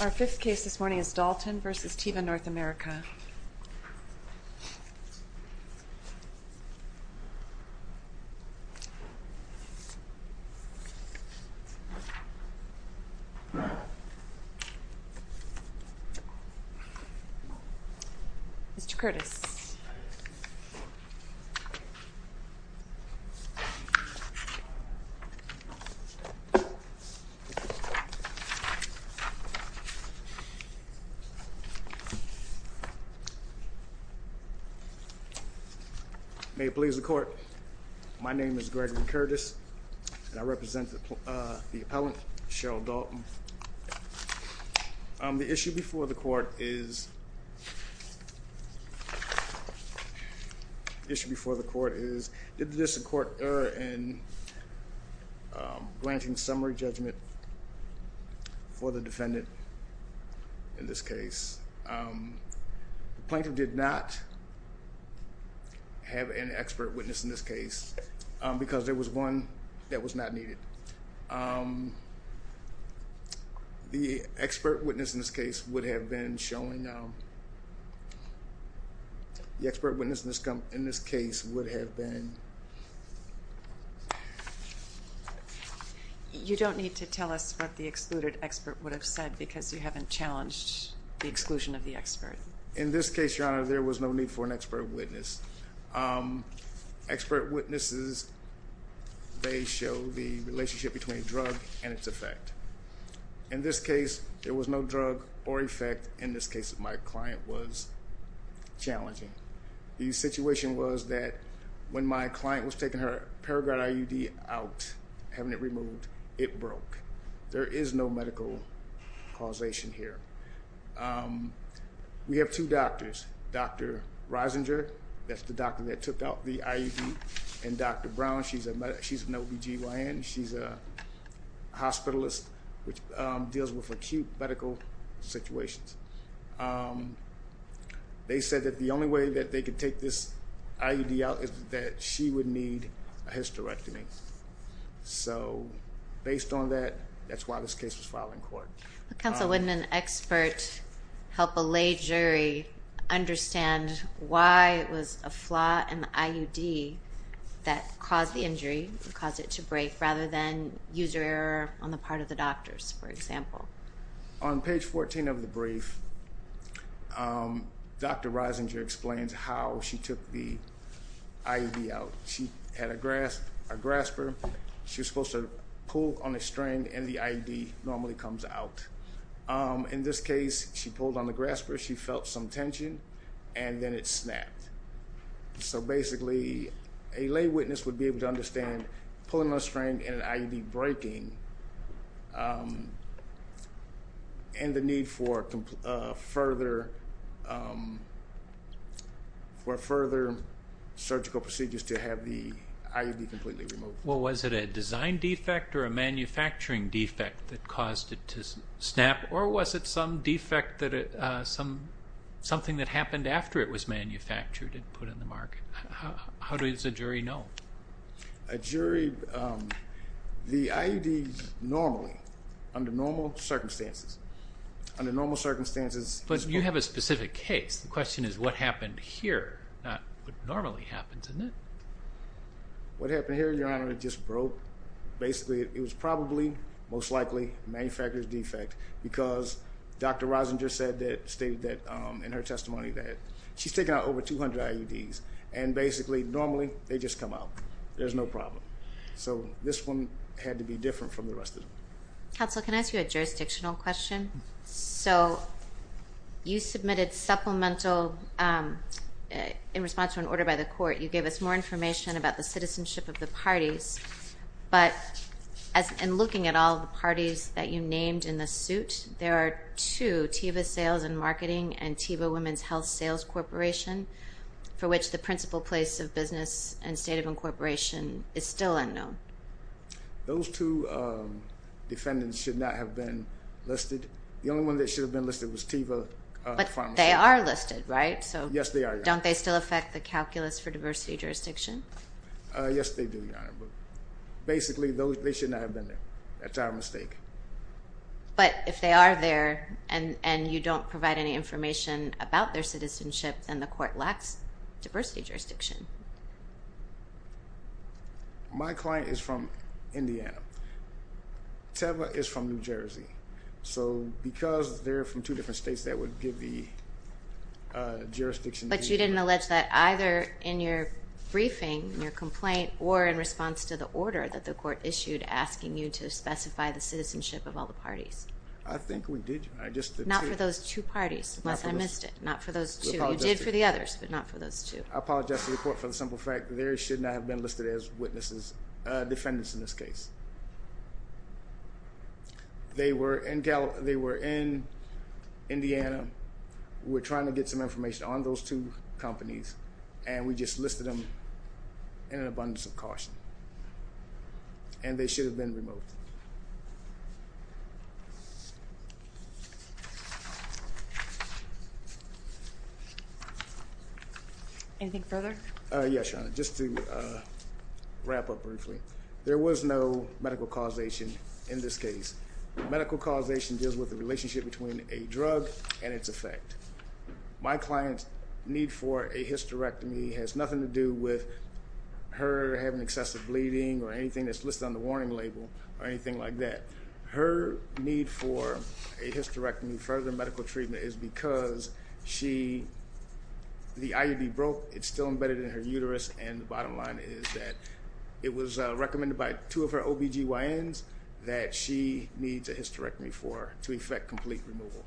Our fifth case this morning is Dalton v. Teva North America. Mr. Curtis. May it please the court. My name is Gregory Curtis and I represent the appellant, Cheryl Dalton. The issue before the court is did this court err in granting summary judgment for the defendant in this case. The plaintiff did not have an expert witness in this case because there was one that was not needed. The expert witness in this case would have been showing, the expert witness in this case would have been. You don't need to tell us what the excluded expert would have said because you haven't challenged the exclusion of the expert. In this case, your honor, there was no need for an expert witness. Expert witnesses, they show the relationship between drug and its effect. In this case, there was no drug or effect. In this case, my client was challenging. The situation was that when my client was taking her Paragard IUD out, having it removed, it broke. There is no medical causation here. We have two doctors, Dr. Reisinger, that's the doctor that took out the IUD, and Dr. Brown, she's an OBGYN, she's a hospitalist which deals with acute medical situations. They said that the only way that they could take this IUD out is that she would need a hysterectomy. So based on that, that's why this case was filed in court. But counsel, wouldn't an expert help a lay jury understand why it was a flaw in the IUD that caused the injury, caused it to break, rather than user error on the part of the doctors, for example? On page 14 of the brief, Dr. Reisinger explains how she took the IUD out. She had a grasper, she was supposed to pull on a string and the IUD normally comes out. In this case, she pulled on the grasper, she felt some tension, and then it snapped. So basically, a lay witness would be able to understand pulling on a string and an IUD breaking, and the need for further surgical procedures to have the IUD completely removed. Well, was it a design defect or a manufacturing defect that caused it to snap, or was it some defect, something that happened after it was manufactured and put in the market? How does a jury know? A jury, the IUDs normally, under normal circumstances, under normal circumstances... But you have a specific case. The question is what happened here, not what normally happens, isn't it? What happened here, Your Honor, it just broke. Basically it was probably, most likely, a manufacturer's defect because Dr. Reisinger said that, stated that in her testimony, that she's taken out over 200 IUDs, and basically normally they just come out, there's no problem. So this one had to be different from the rest of them. Counsel, can I ask you a jurisdictional question? So you submitted supplemental, in response to an order by the court, you gave us more information about the citizenship of the parties, but in looking at all the parties that you named in the suit, there are two, Teva Sales and Marketing and Teva Women's Health Sales Corporation, for which the principal place of business and state of incorporation is still unknown. Those two defendants should not have been listed. The only one that should have been listed was Teva Pharmaceuticals. But they are listed, right? Yes, they are, Your Honor. So don't they still affect the Calculus for Diversity Jurisdiction? Yes, they do, Your Honor, but basically they should not have been there, that's our mistake. But if they are there, and you don't provide any information about their citizenship, then the court lacks diversity jurisdiction. My client is from Indiana. Teva is from New Jersey. So because they're from two different states, that would give the jurisdiction to... But you didn't allege that either in your briefing, in your complaint, or in response to the order that the court issued asking you to specify the citizenship of all the parties. I think we did, Your Honor, just the two. Not for those two parties, unless I missed it. Not for those two. You did for the others, but not for those two. I apologize to the court for the simple fact that they should not have been listed as witnesses, defendants in this case. They were in Indiana. We're trying to get some information on those two companies, and we just listed them in abundance of caution. And they should have been removed. Anything further? Yes, Your Honor. Just to wrap up briefly. There was no medical causation in this case. Medical causation deals with the relationship between a drug and its effect. My client's need for a hysterectomy has nothing to do with her having excessive bleeding or anything that's listed on the warning label, or anything like that. Her need for a hysterectomy, further medical treatment, is because she... The IUD broke. It's still embedded in her uterus, and the bottom line is that it was recommended by two of her OBGYNs that she needs a hysterectomy for, to effect complete removal.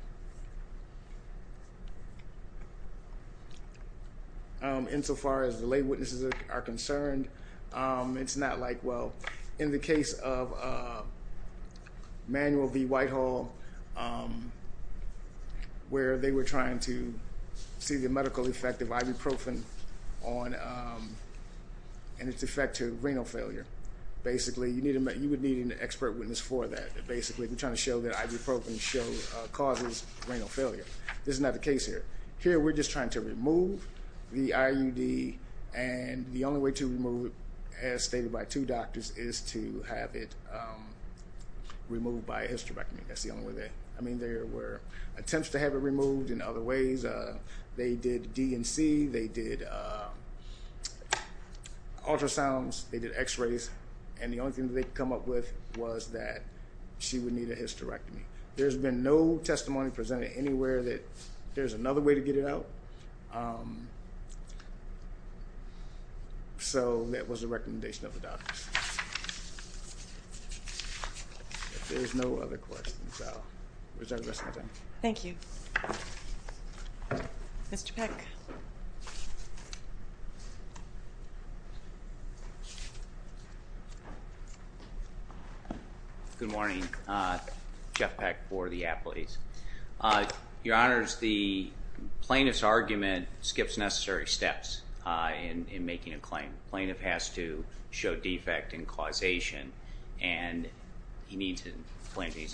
Insofar as the lay witnesses are concerned, it's not like, well... In the case of Manuel V. Whitehall, where they were trying to see the medical effect of ibuprofen on... And its effect to renal failure. Basically, you would need an expert witness for that. Basically, they're trying to show that ibuprofen causes renal failure. This is not the case here. Here we're just trying to remove the IUD, and the only way to remove it, as stated by two doctors, is to have it removed by a hysterectomy. That's the only way they... I mean, there were attempts to have it removed in other ways. They did D&C, they did ultrasounds, they did x-rays, and the only thing they could come up with was that she would need a hysterectomy. There's been no testimony presented anywhere that there's another way to get it out. So that was the recommendation of the doctors. If there's no other questions, I'll reserve the rest of my time. Thank you. Mr. Peck. Good morning. Jeff Peck for the athletes. Your Honors, the plaintiff's argument skips necessary steps in making a claim. Plaintiff has to show defect and causation, and he needs an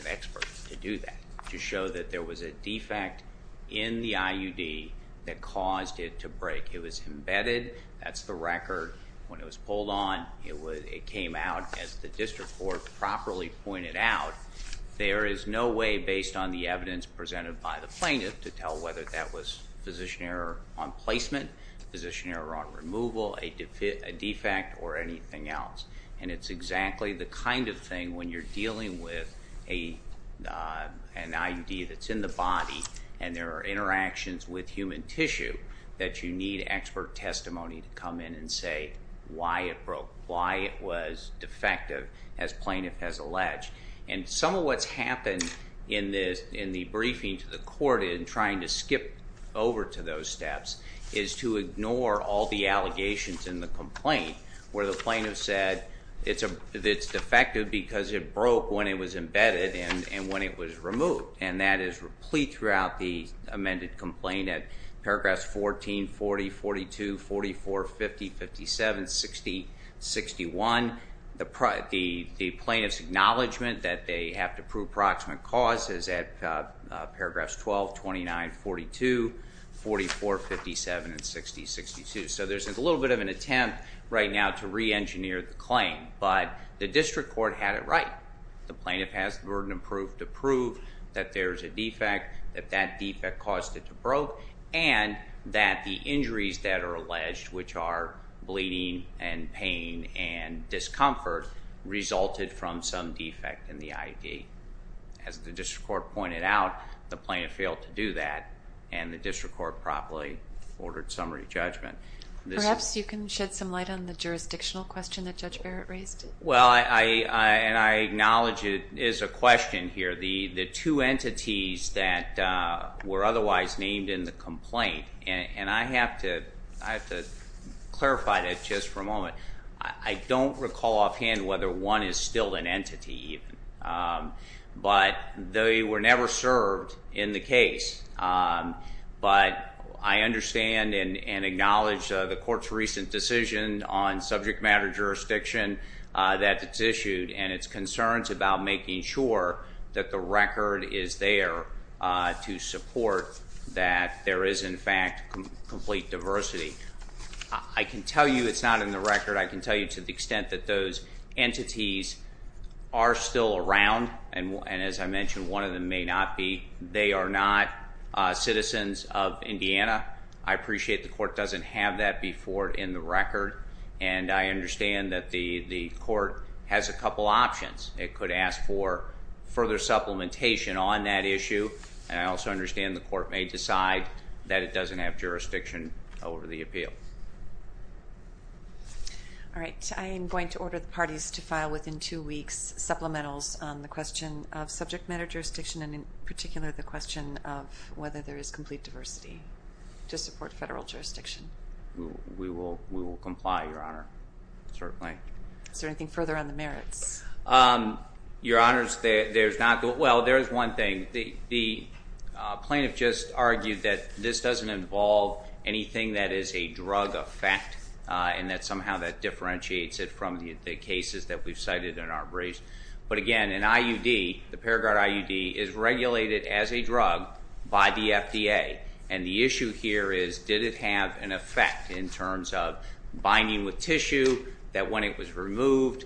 expert to do that, to show that there was a defect in the IUD that caused it to break. It was embedded, that's the record. When it was pulled on, it came out as the district court properly pointed out. There is no way, based on the evidence presented by the plaintiff, to tell whether that was physician error on placement, physician error on removal, a defect, or anything else. It's exactly the kind of thing when you're dealing with an IUD that's in the body, and there are interactions with human tissue, that you need expert testimony to come in and say why it broke, why it was defective, as plaintiff has alleged. Some of what's happened in the briefing to the court in trying to skip over to those It's defective because it broke when it was embedded and when it was removed, and that is replete throughout the amended complaint at paragraphs 14, 40, 42, 44, 50, 57, 60, The plaintiff's acknowledgment that they have to prove proximate cause is at paragraphs 12, 29, 42, 44, 57, and 60, 62. There's a little bit of an attempt right now to re-engineer the claim, but the district court had it right. The plaintiff has the burden of proof to prove that there's a defect, that that defect caused it to broke, and that the injuries that are alleged, which are bleeding and pain and discomfort, resulted from some defect in the IUD. As the district court pointed out, the plaintiff failed to do that, and the district court properly ordered summary judgment. Perhaps you can shed some light on the jurisdictional question that Judge Barrett raised. Well, and I acknowledge it is a question here. The two entities that were otherwise named in the complaint, and I have to clarify that just for a moment, I don't recall offhand whether one is still an entity, but they were I understand and acknowledge the court's recent decision on subject matter jurisdiction that it's issued, and its concerns about making sure that the record is there to support that there is, in fact, complete diversity. I can tell you it's not in the record. I can tell you to the extent that those entities are still around, and as I mentioned, one of them may not be. They are not citizens of Indiana. I appreciate the court doesn't have that before in the record, and I understand that the court has a couple options. It could ask for further supplementation on that issue, and I also understand the court may decide that it doesn't have jurisdiction over the appeal. All right. I am going to order the parties to file within two weeks supplementals on the question of subject matter jurisdiction, and in particular, the question of whether there is complete diversity to support federal jurisdiction. We will comply, Your Honor, certainly. Is there anything further on the merits? Your Honors, there's not. Well, there is one thing. The plaintiff just argued that this doesn't involve anything that is a drug effect, and that somehow that differentiates it from the cases that we've cited in our briefs, but again, an IUD, the Peregrine IUD, is regulated as a drug by the FDA, and the issue here is did it have an effect in terms of binding with tissue, that when it was removed,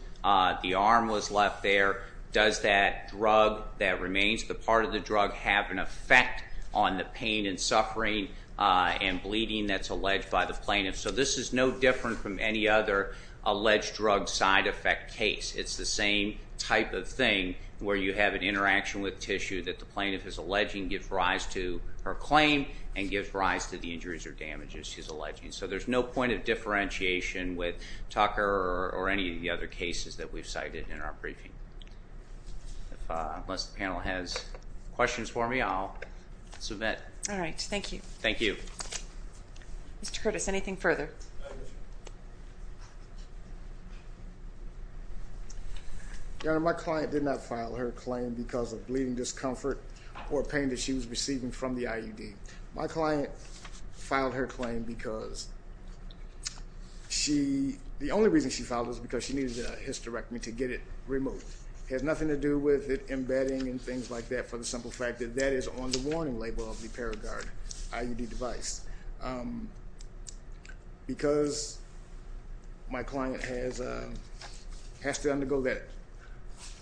the arm was left there, does that drug that remains the part of the drug have an effect on the pain and suffering and bleeding that's alleged by the plaintiff? So this is no different from any other alleged drug side effect case. It's the same type of thing where you have an interaction with tissue that the plaintiff is alleging gives rise to her claim and gives rise to the injuries or damages she's alleging. So there's no point of differentiation with Tucker or any of the other cases that we've cited in our briefing. Unless the panel has questions for me, I'll submit. All right. Thank you. Thank you. Mr. Curtis, anything further? Your Honor, my client did not file her claim because of bleeding discomfort or pain that she was receiving from the IUD. My client filed her claim because she, the only reason she filed it was because she needed a hysterectomy to get it removed. It has nothing to do with it embedding and things like that for the simple fact that that is on the warning label of the Paragard IUD device. Because my client has to undergo that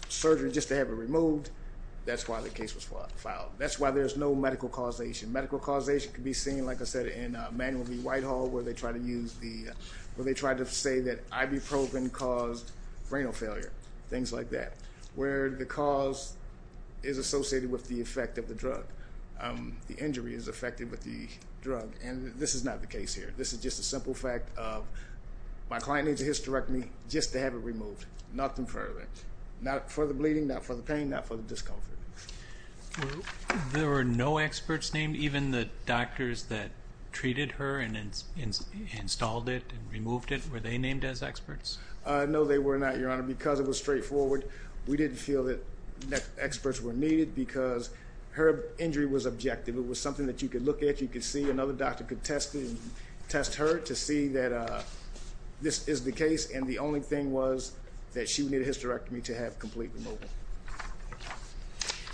surgery just to have it removed, that's why the case was filed. That's why there's no medical causation. Medical causation can be seen, like I said, in Manuel B. Whitehall where they try to say that ibuprofen caused renal failure, things like that, where the cause is associated with the effect of the drug. The injury is affected with the drug. This is not the case here. This is just a simple fact of my client needs a hysterectomy just to have it removed. Nothing further. Not for the bleeding, not for the pain, not for the discomfort. There were no experts named, even the doctors that treated her and installed it and removed it, were they named as experts? No, they were not, Your Honor, because it was straightforward. We didn't feel that experts were needed because her injury was objective. It was something that you could look at, you could see, another doctor could test her to see that this is the case, and the only thing was that she would need a hysterectomy to have completely removed. Thank you.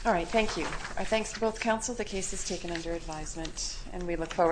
All right, thank you. Our thanks to both counsel. The case is taken under advisement, and we look forward...